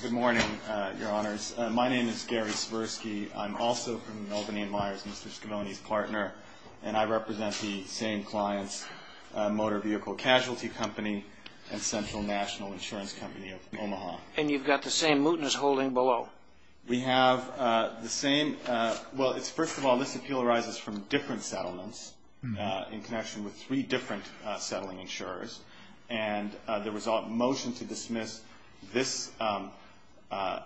Good morning, Your Honors. My name is Gary Svirsky. I'm also from Melbourne & Myers, Mr. Scavone's partner, and I represent the same clients, Motor Vehicle Casualty Company and Central National Insurance Company of Omaha. And you've got the same mootness holding below. We have the same, well, it's first of all, this appeal arises from different settlements in connection with three different settling insurers. And there was a motion to dismiss this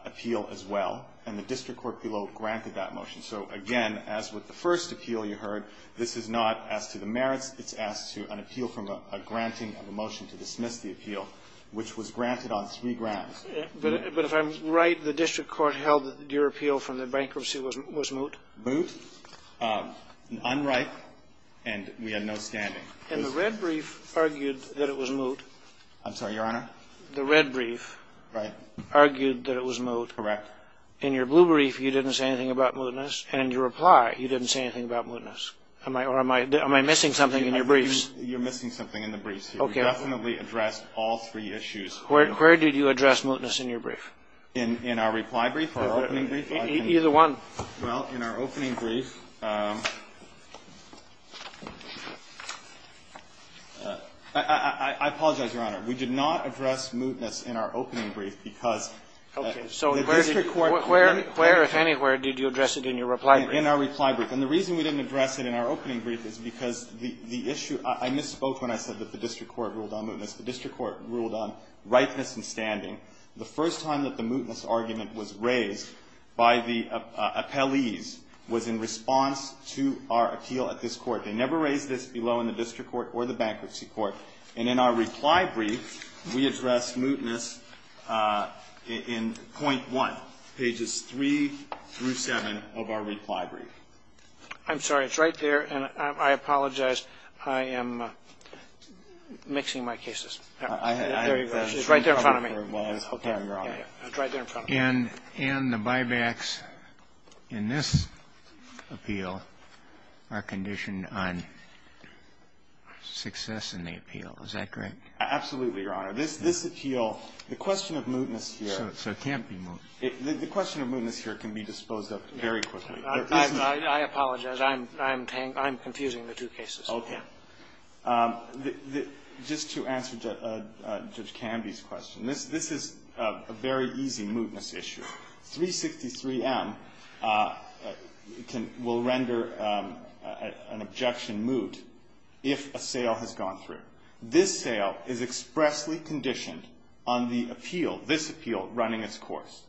appeal as well, and the district court below granted that motion. So, again, as with the first appeal you heard, this is not as to the merits. It's as to an appeal from a granting of a motion to dismiss the appeal, which was granted on three grounds. But if I'm right, the district court held that your appeal from the bankruptcy was moot? Moot, unright, and we had no standing. And the red brief argued that it was moot. I'm sorry, Your Honor? The red brief argued that it was moot. Correct. In your blue brief, you didn't say anything about mootness, and in your reply, you didn't say anything about mootness. Am I missing something in your briefs? You're missing something in the briefs. Okay. We definitely addressed all three issues. Where did you address mootness in your brief? In our reply brief, our opening brief. Either one. Well, in our opening brief. I apologize, Your Honor. We did not address mootness in our opening brief because the district court. Okay. Where, if anywhere, did you address it in your reply brief? In our reply brief. And the reason we didn't address it in our opening brief is because the issue – I misspoke when I said that the district court ruled on mootness. The district court ruled on rightness in standing. The first time that the mootness argument was raised by the appellees was in response to our appeal at this court. They never raised this below in the district court or the bankruptcy court. And in our reply brief, we addressed mootness in point one, pages three through seven of our reply brief. I'm sorry. It's right there, and I apologize. I am mixing my cases. It's right there in front of me. Okay, Your Honor. It's right there in front of me. And the buybacks in this appeal are conditioned on success in the appeal. Is that correct? Absolutely, Your Honor. This appeal, the question of mootness here. So it can't be moot. The question of mootness here can be disposed of very quickly. I apologize. I'm confusing the two cases. Okay. Just to answer Judge Canby's question, this is a very easy mootness issue. 363M will render an objection moot if a sale has gone through. This sale is expressly conditioned on the appeal, this appeal, running its course.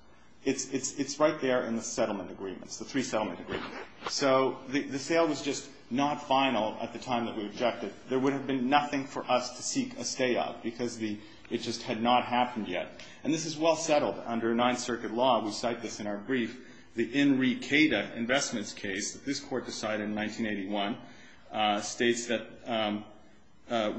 It's right there in the settlement agreements, the three settlement agreements. So the sale was just not final at the time that we objected. There would have been nothing for us to seek a stay of because it just had not happened yet. And this is well settled under Ninth Circuit law. We cite this in our brief. The Henry Cada Investments case that this Court decided in 1981 states that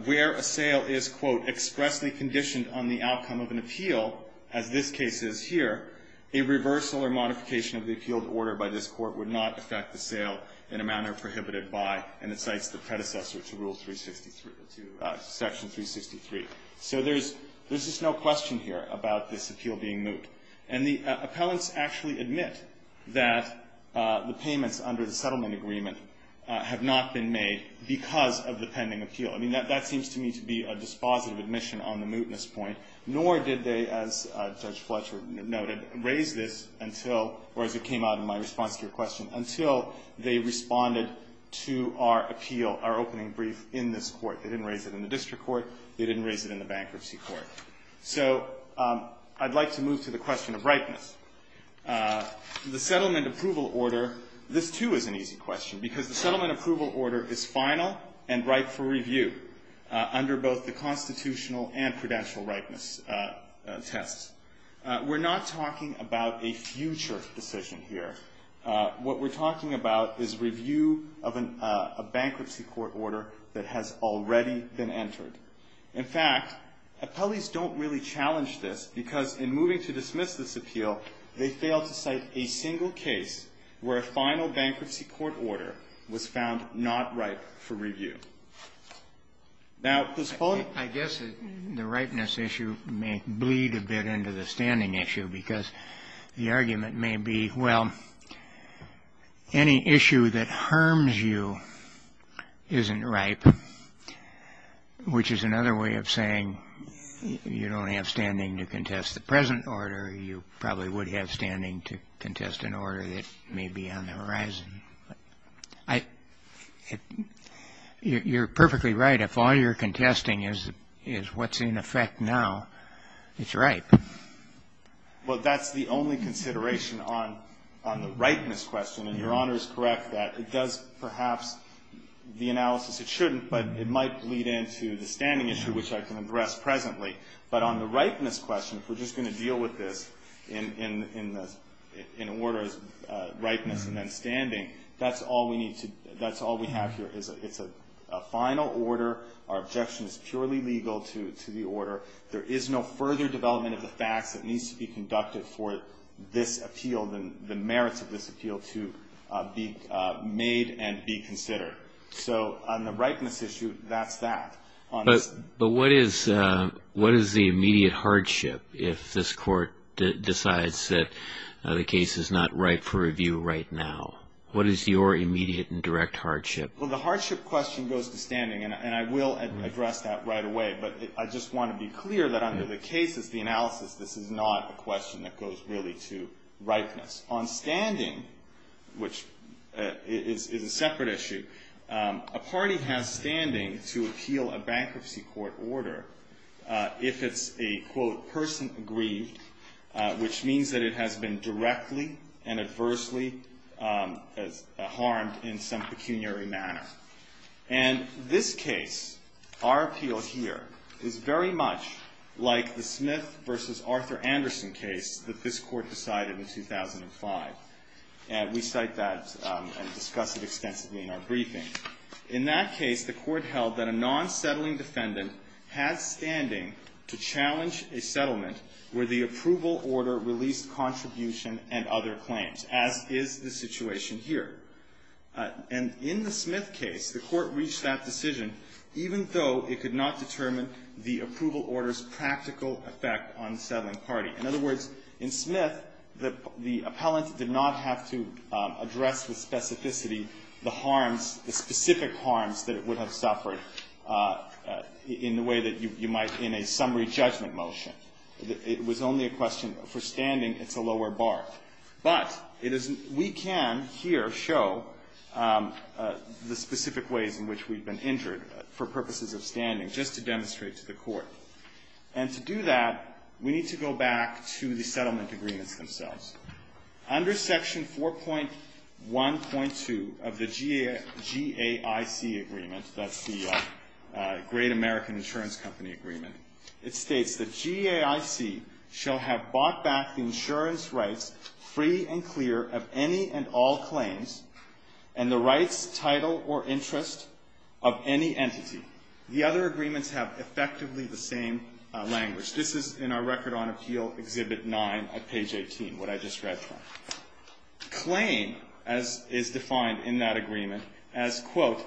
where a sale is, quote, expressly conditioned on the outcome of an appeal, as this case is here, a reversal or modification of the appealed order by this Court would not affect the sale in a manner prohibited by, and it cites the predecessor to Rule 363, to Section 363. So there's just no question here about this appeal being moot. And the appellants actually admit that the payments under the settlement agreement have not been made because of the pending appeal. I mean, that seems to me to be a dispositive admission on the mootness point, nor did they, as Judge Fletcher noted, raise this until, or as it came out in my response to your question, until they responded to our appeal, our opening brief in this Court. They didn't raise it in the district court. They didn't raise it in the bankruptcy court. So I'd like to move to the question of ripeness. The settlement approval order, this, too, is an easy question because the settlement approval order is final and ripe for review under both the constitutional and prudential ripeness tests. We're not talking about a future decision here. What we're talking about is review of a bankruptcy court order that has already been entered. In fact, appellees don't really challenge this because in moving to dismiss this appeal, they fail to cite a single case where a final bankruptcy court order was found not ripe for review. Now, Ms. Fuller? I guess the ripeness issue may bleed a bit into the standing issue because the argument may be, well, any issue that harms you isn't ripe, which is another way of saying you don't have standing to contest the present order. You probably would have standing to contest an order that may be on the horizon. You're perfectly right. If all you're contesting is what's in effect now, it's ripe. Well, that's the only consideration on the ripeness question, and Your Honor is correct that it does perhaps the analysis it shouldn't, but it might bleed into the standing issue, which I can address presently. But on the ripeness question, if we're just going to deal with this in order of ripeness and then standing, that's all we have here. It's a final order. Our objection is purely legal to the order. There is no further development of the facts that needs to be conducted for this appeal, the merits of this appeal, to be made and be considered. So on the ripeness issue, that's that. But what is the immediate hardship if this court decides that the case is not ripe for review right now? What is your immediate and direct hardship? Well, the hardship question goes to standing, and I will address that right away. But I just want to be clear that under the cases, the analysis, this is not a question that goes really to ripeness. On standing, which is a separate issue, a party has standing to appeal a bankruptcy court order if it's a, quote, person aggrieved, which means that it has been directly and adversely harmed in some pecuniary manner. And this case, our appeal here, is very much like the Smith v. Arthur Anderson case that this Court decided in 2005. We cite that and discuss it extensively in our briefing. In that case, the Court held that a non-settling defendant had standing to challenge a settlement where the approval order released contribution and other claims, as is the situation here. And in the Smith case, the Court reached that decision even though it could not determine the approval order's practical effect on the settling party. In other words, in Smith, the appellant did not have to address with specificity the harms, the specific harms that it would have suffered in the way that you might in a summary judgment motion. It was only a question for standing. It's a lower bar. But it is we can here show the specific ways in which we've been injured for purposes of standing, just to demonstrate to the Court. And to do that, we need to go back to the settlement agreements themselves. Under Section 4.1.2 of the GAIC agreement, that's the Great American Insurance Company Agreement, it states that, GAIC shall have bought back the insurance rights free and clear of any and all The other agreements have effectively the same language. This is in our Record on Appeal, Exhibit 9, at page 18, what I just read from. Claim, as is defined in that agreement, as, quote,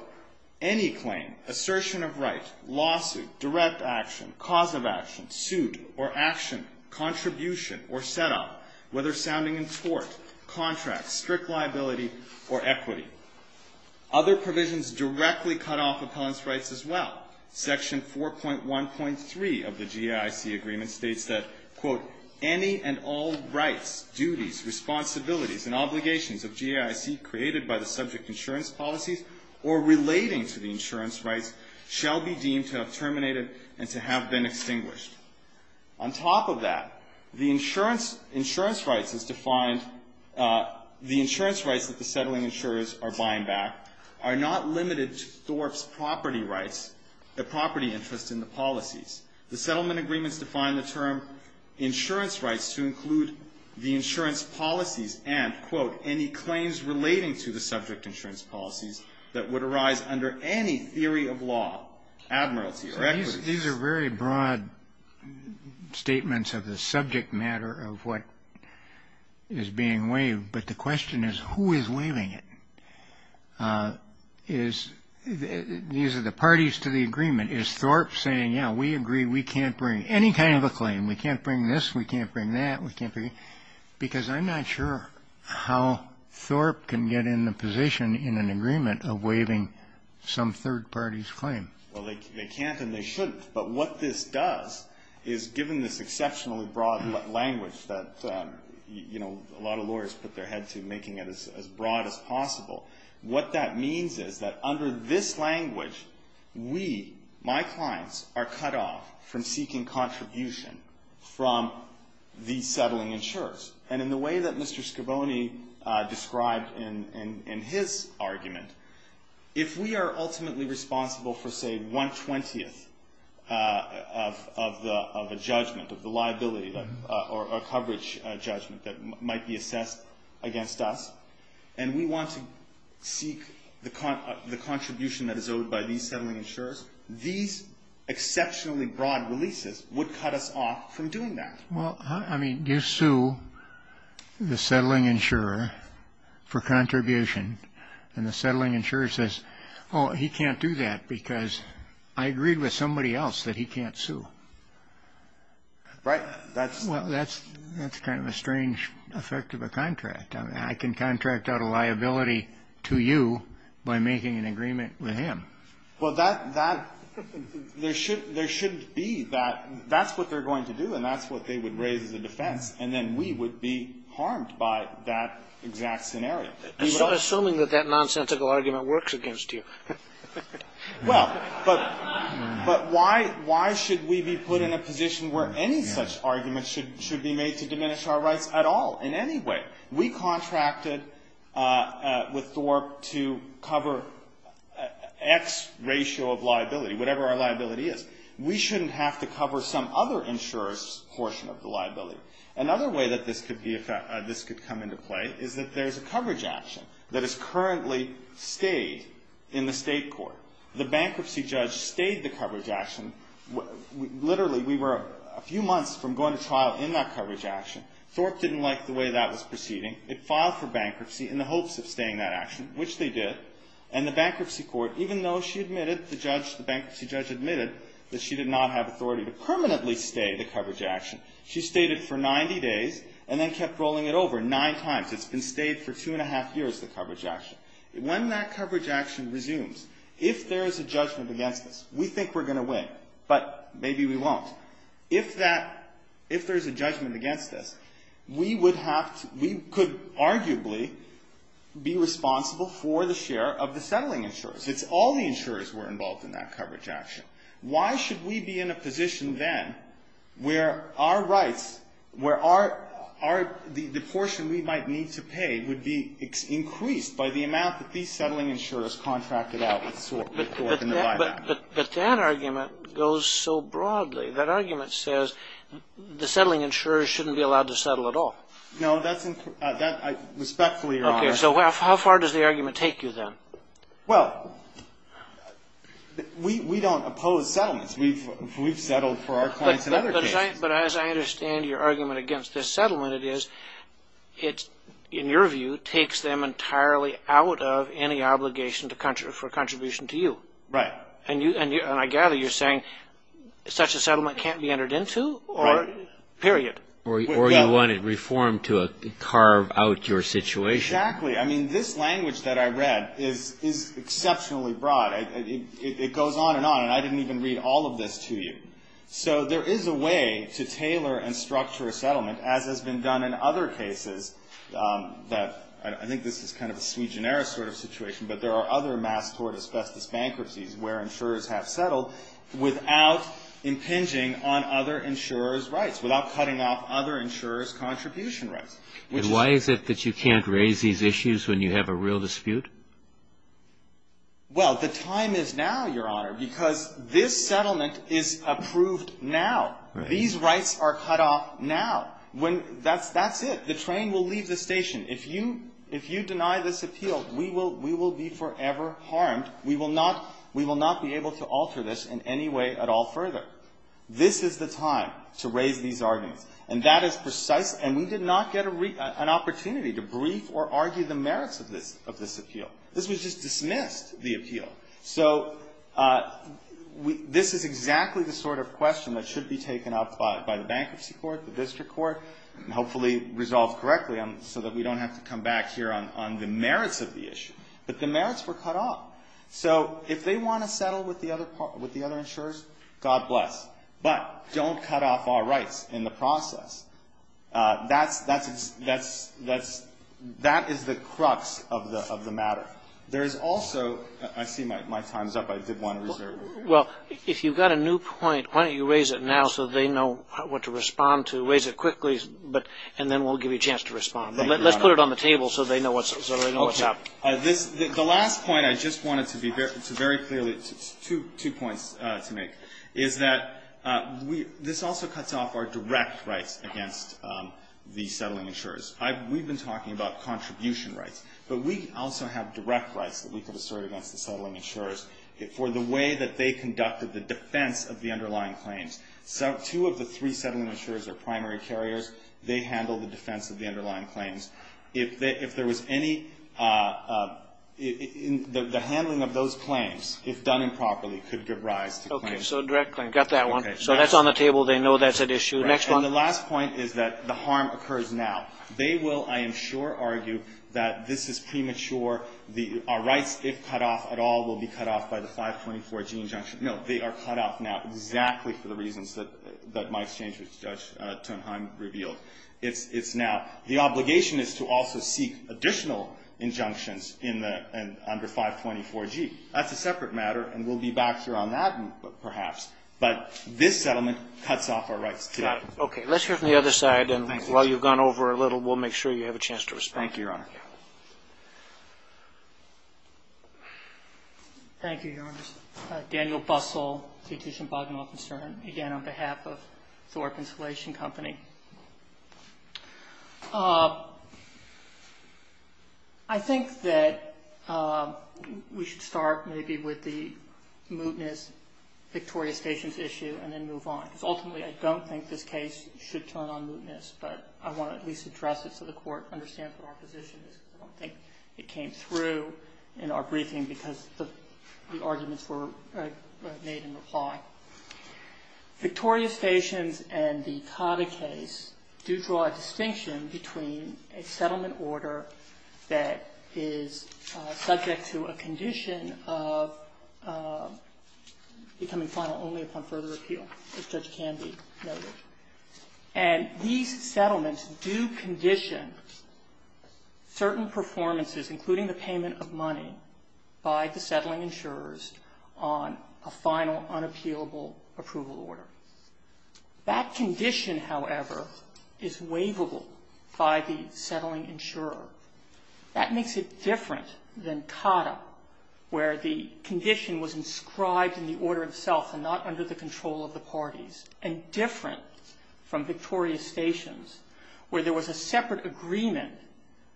any claim, assertion of right, lawsuit, direct action, cause of action, suit or action, contribution or setup, whether sounding in tort, contract, strict liability or equity. Other provisions directly cut off appellant's rights as well. Section 4.1.3 of the GAIC agreement states that, quote, any and all rights, duties, responsibilities and obligations of GAIC created by the subject insurance policies or relating to the insurance rights shall be deemed to have terminated and to have been extinguished. On top of that, the insurance rights is defined, the insurance rights that the settling insurers are buying back are not limited to Thorpe's property rights, the property interest in the policies. The settlement agreements define the term insurance rights to include the insurance policies and, quote, any claims relating to the subject insurance policies that would arise under any theory of law, admiralty or equity. These are very broad statements of the subject matter of what is being waived, but the question is, who is waiving it? Is, these are the parties to the agreement. Is Thorpe saying, yeah, we agree we can't bring any kind of a claim, we can't bring this, we can't bring that, we can't bring, because I'm not sure how Thorpe can get in the position in an agreement of waiving some third party's claim. Well, they can't and they shouldn't. But what this does is, given this exceptionally broad language that, you know, a lot of lawyers put their head to making it as broad as possible, what that means is that under this language, we, my clients, are cut off from seeking contribution from the settling insurers. And in the way that Mr. Scaboni described in his argument, if we are ultimately responsible for, say, one-twentieth of a judgment of the liability or coverage judgment that might be assessed against us, and we want to seek the contribution that is owed by these settling insurers, these exceptionally broad releases would cut us off from doing that. Well, I mean, you sue the settling insurer for contribution, and the settling insurer says, oh, he can't do that because I agreed with somebody else that he can't sue. Right. Well, that's kind of a strange effect of a contract. I mean, I can contract out a liability to you by making an agreement with him. Well, that's what they're going to do, and that's what they would raise as a defense. And then we would be harmed by that exact scenario. Assuming that that nonsensical argument works against you. Well, but why should we be put in a position where any such argument should be made to diminish our rights at all in any way? We contracted with Thorpe to cover X ratio of liability, whatever our liability is. We shouldn't have to cover some other insurer's portion of the liability. Another way that this could come into play is that there's a coverage action that is currently stayed in the state court. The bankruptcy judge stayed the coverage action. Literally, we were a few months from going to trial in that coverage action. Thorpe didn't like the way that was proceeding. It filed for bankruptcy in the hopes of staying that action, which they did. And the bankruptcy court, even though she admitted, the judge, the bankruptcy judge admitted that she did not have authority to permanently stay the coverage action, she stayed it for 90 days and then kept rolling it over nine times. It's been stayed for two and a half years, the coverage action. When that coverage action resumes, if there is a judgment against us, we think we're going to win, but maybe we won't. If that, if there's a judgment against us, we would have to, we could arguably be responsible for the share of the settling insurers. It's all the insurers who were involved in that coverage action. Why should we be in a position then where our rights, where our, the portion we might need to pay would be increased by the amount that these settling insurers contracted out with Thorpe in the buyback? But that argument goes so broadly. That argument says the settling insurers shouldn't be allowed to settle at all. No, that's, respectfully, Your Honor. Okay, so how far does the argument take you then? Well, we don't oppose settlements. We've settled for our clients in other cases. But as I understand your argument against this settlement, it is, in your view, takes them entirely out of any obligation for contribution to you. Right. And I gather you're saying such a settlement can't be entered into? Right. Period. Or you want it reformed to carve out your situation. Exactly. I mean, this language that I read is exceptionally broad. It goes on and on, and I didn't even read all of this to you. So there is a way to tailor and structure a settlement, as has been done in other cases that I think this is kind of a sui generis sort of situation, but there are other mass tort asbestos bankruptcies where insurers have settled without impinging on other insurers' rights, without cutting off other insurers' contribution rights. And why is it that you can't raise these issues when you have a real dispute? Well, the time is now, Your Honor, because this settlement is approved now. Right. These rights are cut off now. That's it. The train will leave the station. If you deny this appeal, we will be forever harmed. We will not be able to alter this in any way at all further. This is the time to raise these arguments, and that is precise, and we did not get an opportunity to brief or argue the merits of this appeal. This was just dismissed, the appeal. So this is exactly the sort of question that should be taken up by the bankruptcy court, the district court, and hopefully resolved correctly so that we don't have to come back here on the merits of the issue. But the merits were cut off. So if they want to settle with the other insurers, God bless. But don't cut off our rights in the process. That is the crux of the matter. There is also – I see my time is up. I did want to reserve it. Well, if you've got a new point, why don't you raise it now so they know what to respond to, raise it quickly, and then we'll give you a chance to respond. Thank you, Your Honor. But let's put it on the table so they know what's up. Okay. The last point I just wanted to be very clear, two points to make, is that this also cuts off our direct rights against the settling insurers. We've been talking about contribution rights. But we also have direct rights that we could assert against the settling insurers for the way that they conducted the defense of the underlying claims. Two of the three settling insurers are primary carriers. They handle the defense of the underlying claims. If there was any – the handling of those claims, if done improperly, could give rise to claims. Okay. So a direct claim. Got that one. So that's on the table. They know that's at issue. Next one. Right. And the last point is that the harm occurs now. They will, I am sure, argue that this is premature. Our rights, if cut off at all, will be cut off by the 524G injunction. No. They are cut off now exactly for the reasons that my exchange with Judge Tonheim revealed. It's now. The obligation is to also seek additional injunctions in the – under 524G. That's a separate matter, and we'll be back here on that perhaps. But this settlement cuts off our rights. Got it. Okay. Let's hear from the other side, and while you've gone over a little, we'll make sure you have a chance to respond. Thank you, Your Honor. Thank you, Your Honors. Daniel Bussell, Petition Bogginoff and Stern, again on behalf of Thorpe Installation Company. I think that we should start maybe with the mootness, Victoria Stations issue, and then move on. Because ultimately, I don't think this case should turn on mootness, but I want to at least address it so the Court understands what our position is because I don't think it came through in our briefing because the arguments were made in reply. Victoria Stations and the Cava case do draw a distinction between a settlement order that is subject to a condition of becoming final only upon further appeal, as Judge Candy noted. And these settlements do condition certain performances, including the payment of money, by the settling insurers on a final unappealable approval order. That condition, however, is waivable by the settling insurer. That makes it different than Cava, where the condition was inscribed in the order itself and not under the control of the parties, and different from Victoria Stations, where there was a separate agreement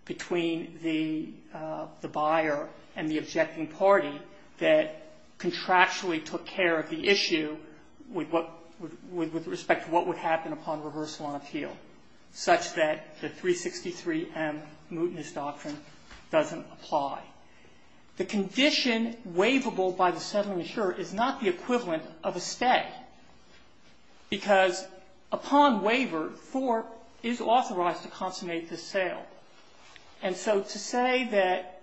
between the buyer and the objecting party that contractually took care of the issue with respect to what would happen upon reversal on appeal, such that the 363M mootness doctrine doesn't apply. The condition waivable by the settling insurer is not the equivalent of a stay because upon waiver, Thorpe is authorized to consummate the sale. And so to say that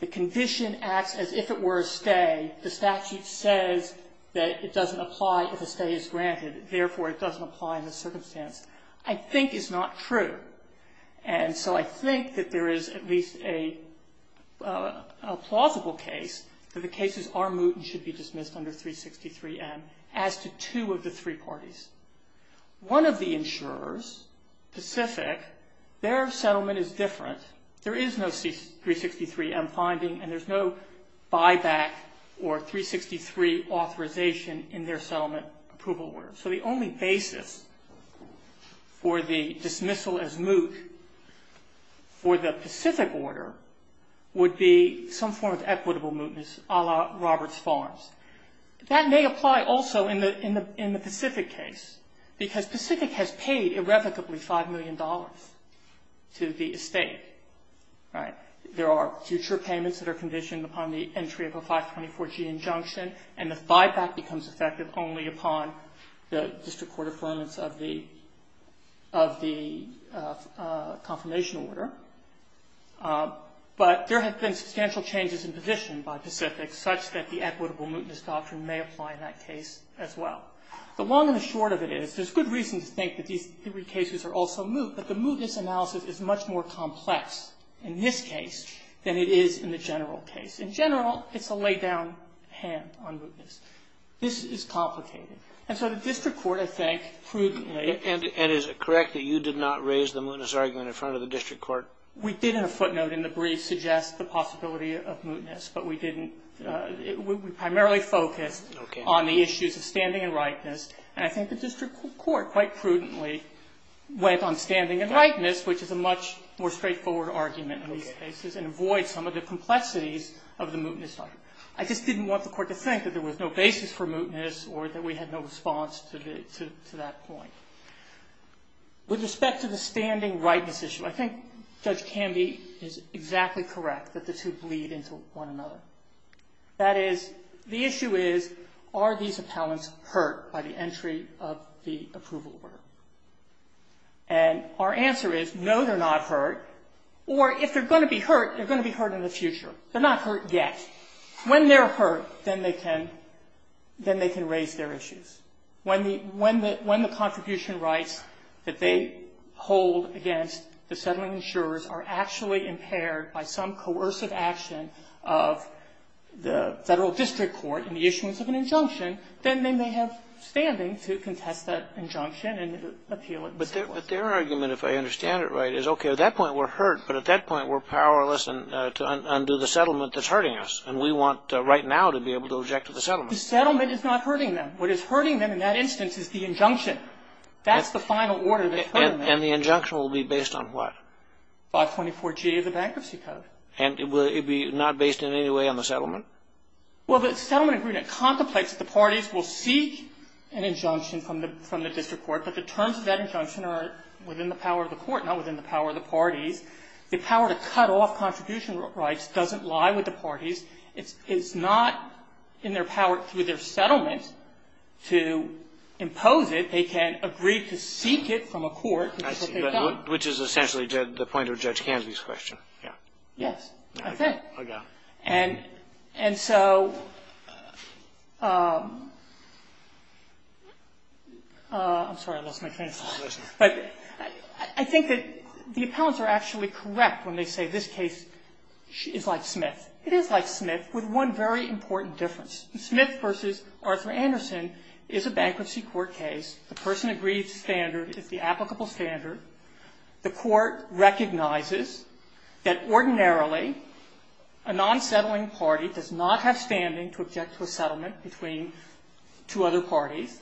the condition acts as if it were a stay, the statute says that it doesn't apply if a stay is granted. Therefore, it doesn't apply in this circumstance, I think is not true. And so I think that there is at least a plausible case that the cases are moot and should be dismissed under 363M as to two of the three parties. One of the insurers, Pacific, their settlement is different. There is no 363M finding and there's no buyback or 363 authorization in their settlement approval order. So the only basis for the dismissal as moot for the Pacific order would be some form of equitable mootness a la Roberts Farms. That may apply also in the Pacific case because Pacific has paid irrevocably $5 million to the estate, right? There are future payments that are conditioned upon the entry of a 524G injunction and the buyback becomes effective only upon the district court conference of the confirmation order. But there have been substantial changes in position by Pacific such that the equitable mootness doctrine may apply in that case as well. The long and the short of it is there's good reason to think that these three cases are also moot, but the mootness analysis is much more complex in this case than it is in the general case. In general, it's a laid down hand on mootness. This is complicated. And so the district court, I think, prudently. And is it correct that you did not raise the mootness argument in front of the district court? We did in a footnote in the brief suggest the possibility of mootness, but we didn't. We primarily focused on the issues of standing and rightness, and I think the district court quite prudently went on standing and rightness, which is a much more straightforward argument in these cases and avoids some of the complexities of the mootness doctrine. I just didn't want the court to think that there was no basis for mootness or that we had no response to that point. With respect to the standing rightness issue, I think Judge Candy is exactly correct that the two bleed into one another. That is, the issue is, are these appellants hurt by the entry of the approval order? And our answer is, no, they're not hurt, or if they're going to be hurt, they're going to be hurt in the future. They're not hurt yet. When they're hurt, then they can raise their issues. When the contribution rights that they hold against the settling insurers are actually impaired by some coercive action of the Federal district court in the issuance of an injunction, then they may have standing to contest that injunction and appeal it. But their argument, if I understand it right, is, okay, at that point we're hurt, but at that point we're powerless to undo the settlement that's hurting us, and we want right now to be able to object to the settlement. The settlement is not hurting them. What is hurting them in that instance is the injunction. That's the final order that's hurting them. And the injunction will be based on what? 524G of the Bankruptcy Code. And will it be not based in any way on the settlement? Well, the settlement agreement contemplates that the parties will seek an injunction from the district court, but the terms of that injunction are within the power of the parties. The power to cut off contribution rights doesn't lie with the parties. It's not in their power through their settlement to impose it. They can agree to seek it from a court. And that's what they've done. Which is essentially the point of Judge Canvey's question. Yes. I think. And so I'm sorry, I lost my train of thought. Listen. But I think that the appellants are actually correct when they say this case is like Smith. It is like Smith with one very important difference. Smith v. Arthur Anderson is a bankruptcy court case. The person agrees to standard is the applicable standard. The court recognizes that ordinarily a non-settling party does not have standing to object to a settlement between two other parties.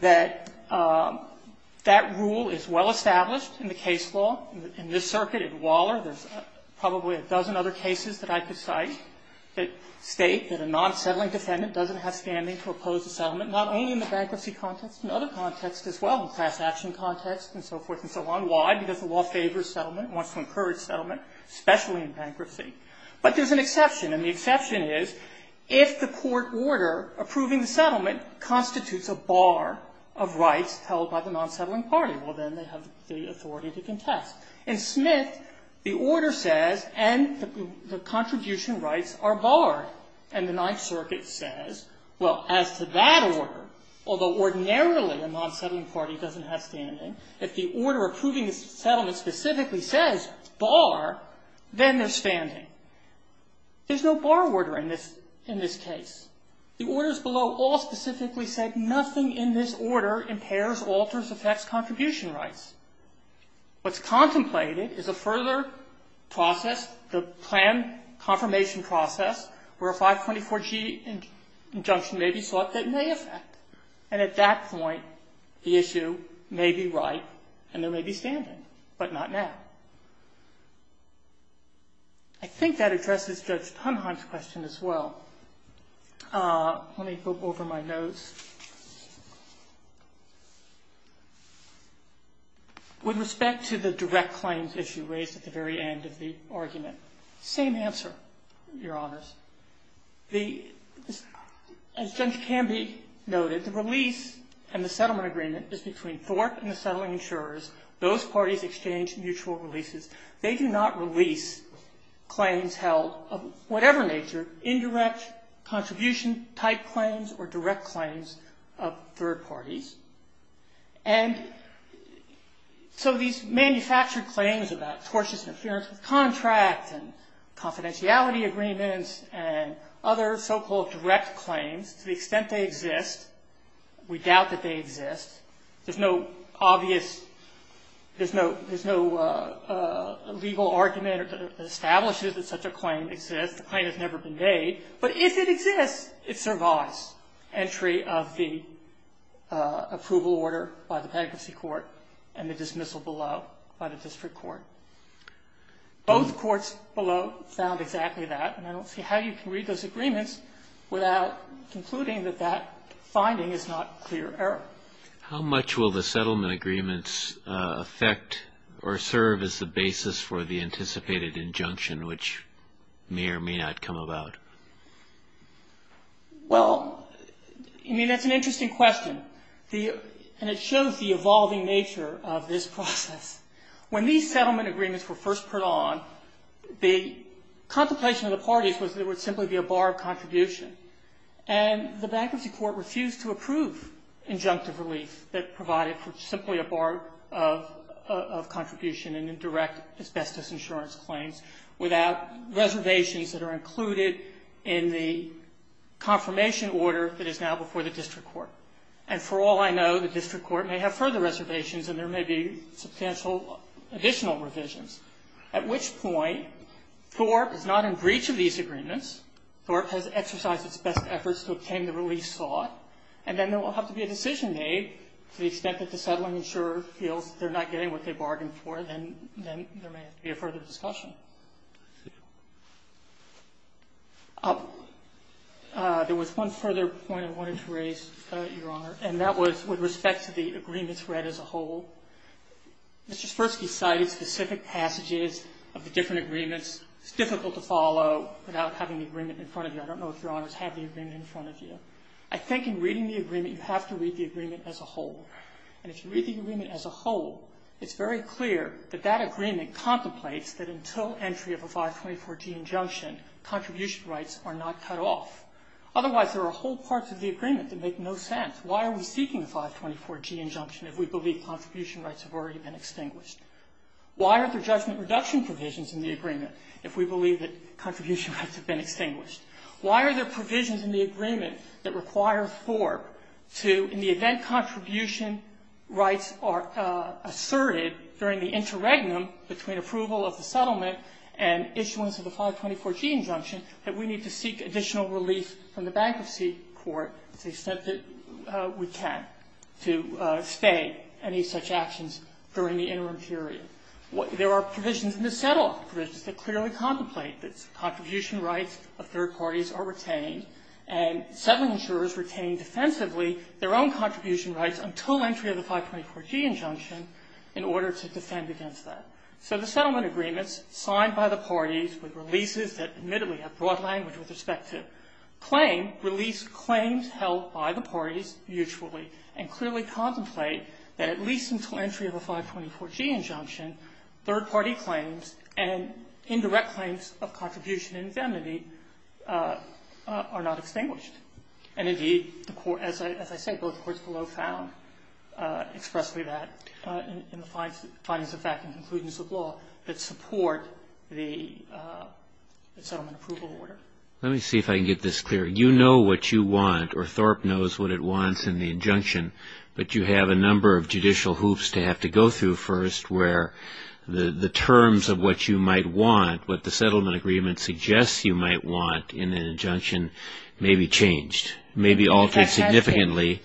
That that rule is well established in the case law. In this circuit, in Waller, there's probably a dozen other cases that I could cite that state that a non-settling defendant doesn't have standing to oppose a settlement, not only in the bankruptcy context, but in other contexts as well, the class action context and so forth and so on. Why? Because the law favors settlement, wants to encourage settlement, especially in bankruptcy. But there's an exception. And the exception is if the court order approving the settlement constitutes a bar of rights held by the non-settling party. Well, then they have the authority to contest. In Smith, the order says, and the contribution rights are barred. And the Ninth Circuit says, well, as to that order, although ordinarily a non-settling party doesn't have standing, if the order approving the settlement specifically says bar, then they're standing. There's no bar order in this case. The orders below all specifically said nothing in this order impairs, alters, affects contribution rights. What's contemplated is a further process, the plan confirmation process, where a 524G injunction may be sought that may affect. And at that point, the issue may be right and there may be standing, but not now. I think that addresses Judge Tunheim's question as well. Let me go over my notes. With respect to the direct claims issue raised at the very end of the argument, same answer, Your Honors. As Judge Canby noted, the release and the settlement agreement is between Thorpe and the settling insurers. Those parties exchange mutual releases. They do not release claims held of whatever nature, indirect contribution-type claims or direct claims of third parties. And so these manufactured claims about tortious interference with contracts and confidentiality agreements and other so-called direct claims, to the extent they exist, we doubt that they exist. There's no obvious, there's no legal argument that establishes that such a claim exists. The claim has never been made. But if it exists, it survives entry of the approval order by the Patency Court and the dismissal below by the District Court. Both courts below found exactly that, and I don't see how you can read those agreements without concluding that that finding is not clear error. How much will the settlement agreements affect or serve as the basis for the anticipated injunction, which may or may not come about? Well, I mean, that's an interesting question. And it shows the evolving nature of this process. When these settlement agreements were first put on, the contemplation of the parties was there would simply be a bar of contribution. And the Bankruptcy Court refused to approve injunctive relief that provided for simply a bar of contribution and indirect asbestos insurance claims without reservations that are included in the confirmation order that is now before the District Court. And for all I know, the District Court may have further reservations and there may be substantial additional revisions, at which point Thorpe is not in breach of these agreements. Thorpe has exercised its best efforts to obtain the relief sought. And then there will have to be a decision made to the extent that the settling insurer feels they're not getting what they bargained for. Then there may have to be a further discussion. There was one further point I wanted to raise, Your Honor, and that was with respect to the agreements read as a whole. Mr. Sfirsky cited specific passages of the different agreements. It's difficult to follow without having the agreement in front of you. I don't know if Your Honors have the agreement in front of you. I think in reading the agreement, you have to read the agreement as a whole. And if you read the agreement as a whole, it's very clear that that agreement contemplates that until entry of a 524G injunction, contribution rights are not cut off. Otherwise, there are whole parts of the agreement that make no sense. Why are we seeking a 524G injunction if we believe contribution rights have already been extinguished? Why are there judgment reduction provisions in the agreement if we believe that contribution rights have been extinguished? Why are there provisions in the agreement that require Thorpe to, in the event contribution rights are asserted during the interregnum between approval of the settlement and issuance of the 524G injunction, that we need to seek additional relief from the bankruptcy court to the extent that we can to stay any such actions during the interim period? There are provisions in the settlement provisions that clearly contemplate this. Contribution rights of third parties are retained, and settlement jurors retain defensively their own contribution rights until entry of the 524G injunction in order to defend against that. So the settlement agreements signed by the parties with releases that admittedly have broad language with respect to claim release claims held by the parties mutually and clearly contemplate that at least until entry of a 524G injunction, third-party claims and indirect claims of contribution and infamity are not extinguished. And indeed, as I say, both courts below found expressly that in the findings of fact and conclusions of law that support the settlement approval order. Let me see if I can get this clear. You know what you want, or Thorpe knows what it wants in the injunction, but you have a number of judicial hoops to have to go through first where the terms of what you might want, what the settlement agreement suggests you might want in an injunction may be changed, may be altered significantly.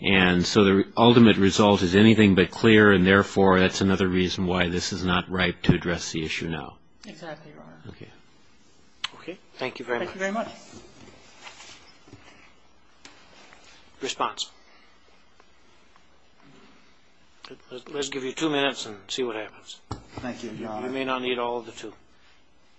And so the ultimate result is anything but clear, and therefore that's another reason why this is not ripe to address the issue now. Exactly, Your Honor. Okay. Okay. Thank you very much. Thank you very much. Response. Let's give you two minutes and see what happens. Thank you, Your Honor. You may not need all of the two.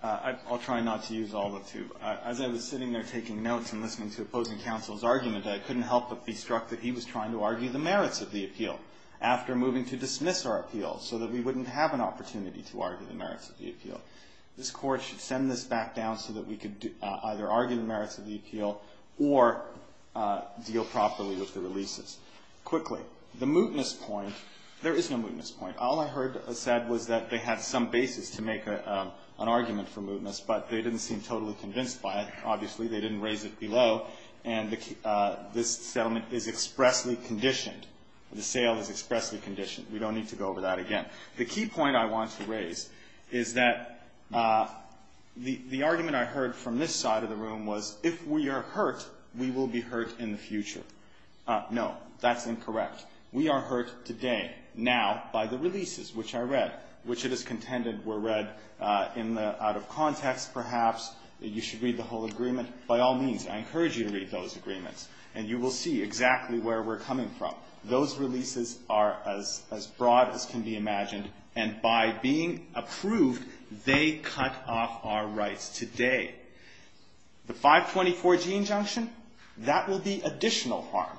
I'll try not to use all of the two. As I was sitting there taking notes and listening to opposing counsel's argument, I couldn't help but be struck that he was trying to argue the merits of the appeal after moving to dismiss our appeal should send this back down so that we could either argue the merits of the appeal or deal properly with the releases. Quickly, the mootness point, there is no mootness point. All I heard said was that they had some basis to make an argument for mootness, but they didn't seem totally convinced by it. Obviously, they didn't raise it below, and this settlement is expressly conditioned. The sale is expressly conditioned. We don't need to go over that again. The key point I want to raise is that the argument I heard from this side of the room was, if we are hurt, we will be hurt in the future. No, that's incorrect. We are hurt today, now, by the releases, which I read, which it is contended were read out of context, perhaps. You should read the whole agreement. By all means, I encourage you to read those agreements, and you will see exactly where we're coming from. Those releases are as broad as can be imagined, and by being approved, they cut off our rights today. The 524G injunction, that will be additional harm.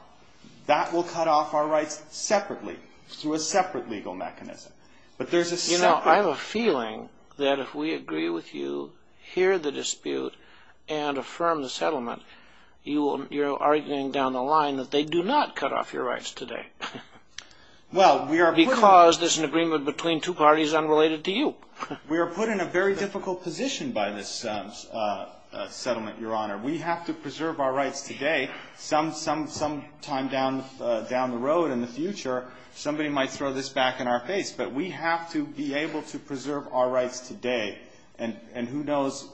That will cut off our rights separately through a separate legal mechanism. But there's a separate— You know, I have a feeling that if we agree with you, hear the dispute, and affirm the settlement, you're arguing down the line that they do not cut off your rights today. Well, we are— Because there's an agreement between two parties unrelated to you. We are put in a very difficult position by this settlement, Your Honor. We have to preserve our rights today. Some time down the road in the future, somebody might throw this back in our face. But we have to be able to preserve our rights today, and who knows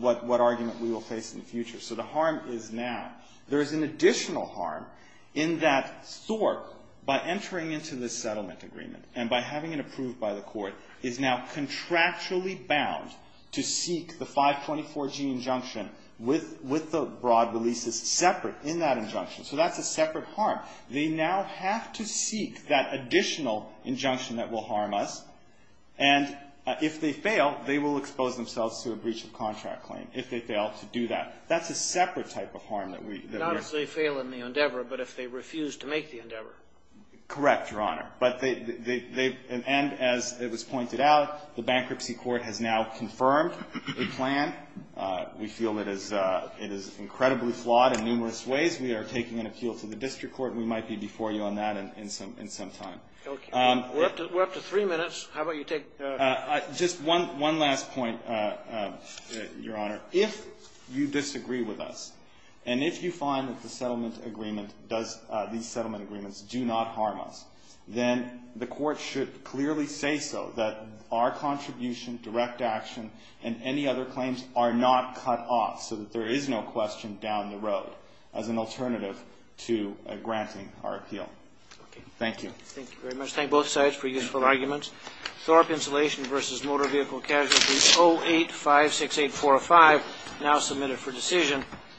what argument we will face in the future. So the harm is now. There is an additional harm in that Thorpe, by entering into this settlement agreement, and by having it approved by the court, is now contractually bound to seek the 524G injunction with the broad releases separate in that injunction. So that's a separate harm. They now have to seek that additional injunction that will harm us, and if they fail, they will expose themselves to a breach of contract claim if they fail to do that. That's a separate type of harm that we— Not if they fail in the endeavor, but if they refuse to make the endeavor. Correct, Your Honor. And as it was pointed out, the bankruptcy court has now confirmed the plan. We feel it is incredibly flawed in numerous ways. We are taking an appeal to the district court. We might be before you on that in some time. We're up to three minutes. How about you take— Just one last point, Your Honor. If you disagree with us, and if you find that the settlement agreement does — these settlement agreements do not harm us, then the court should clearly say so, that our contribution, direct action, and any other claims are not cut off, so that there is no question down the road as an alternative to granting our appeal. Thank you. Thank you very much. Thank both sides for useful arguments. Thorpe Insulation v. Motor Vehicle Casualty 08568405, now submitted for decision.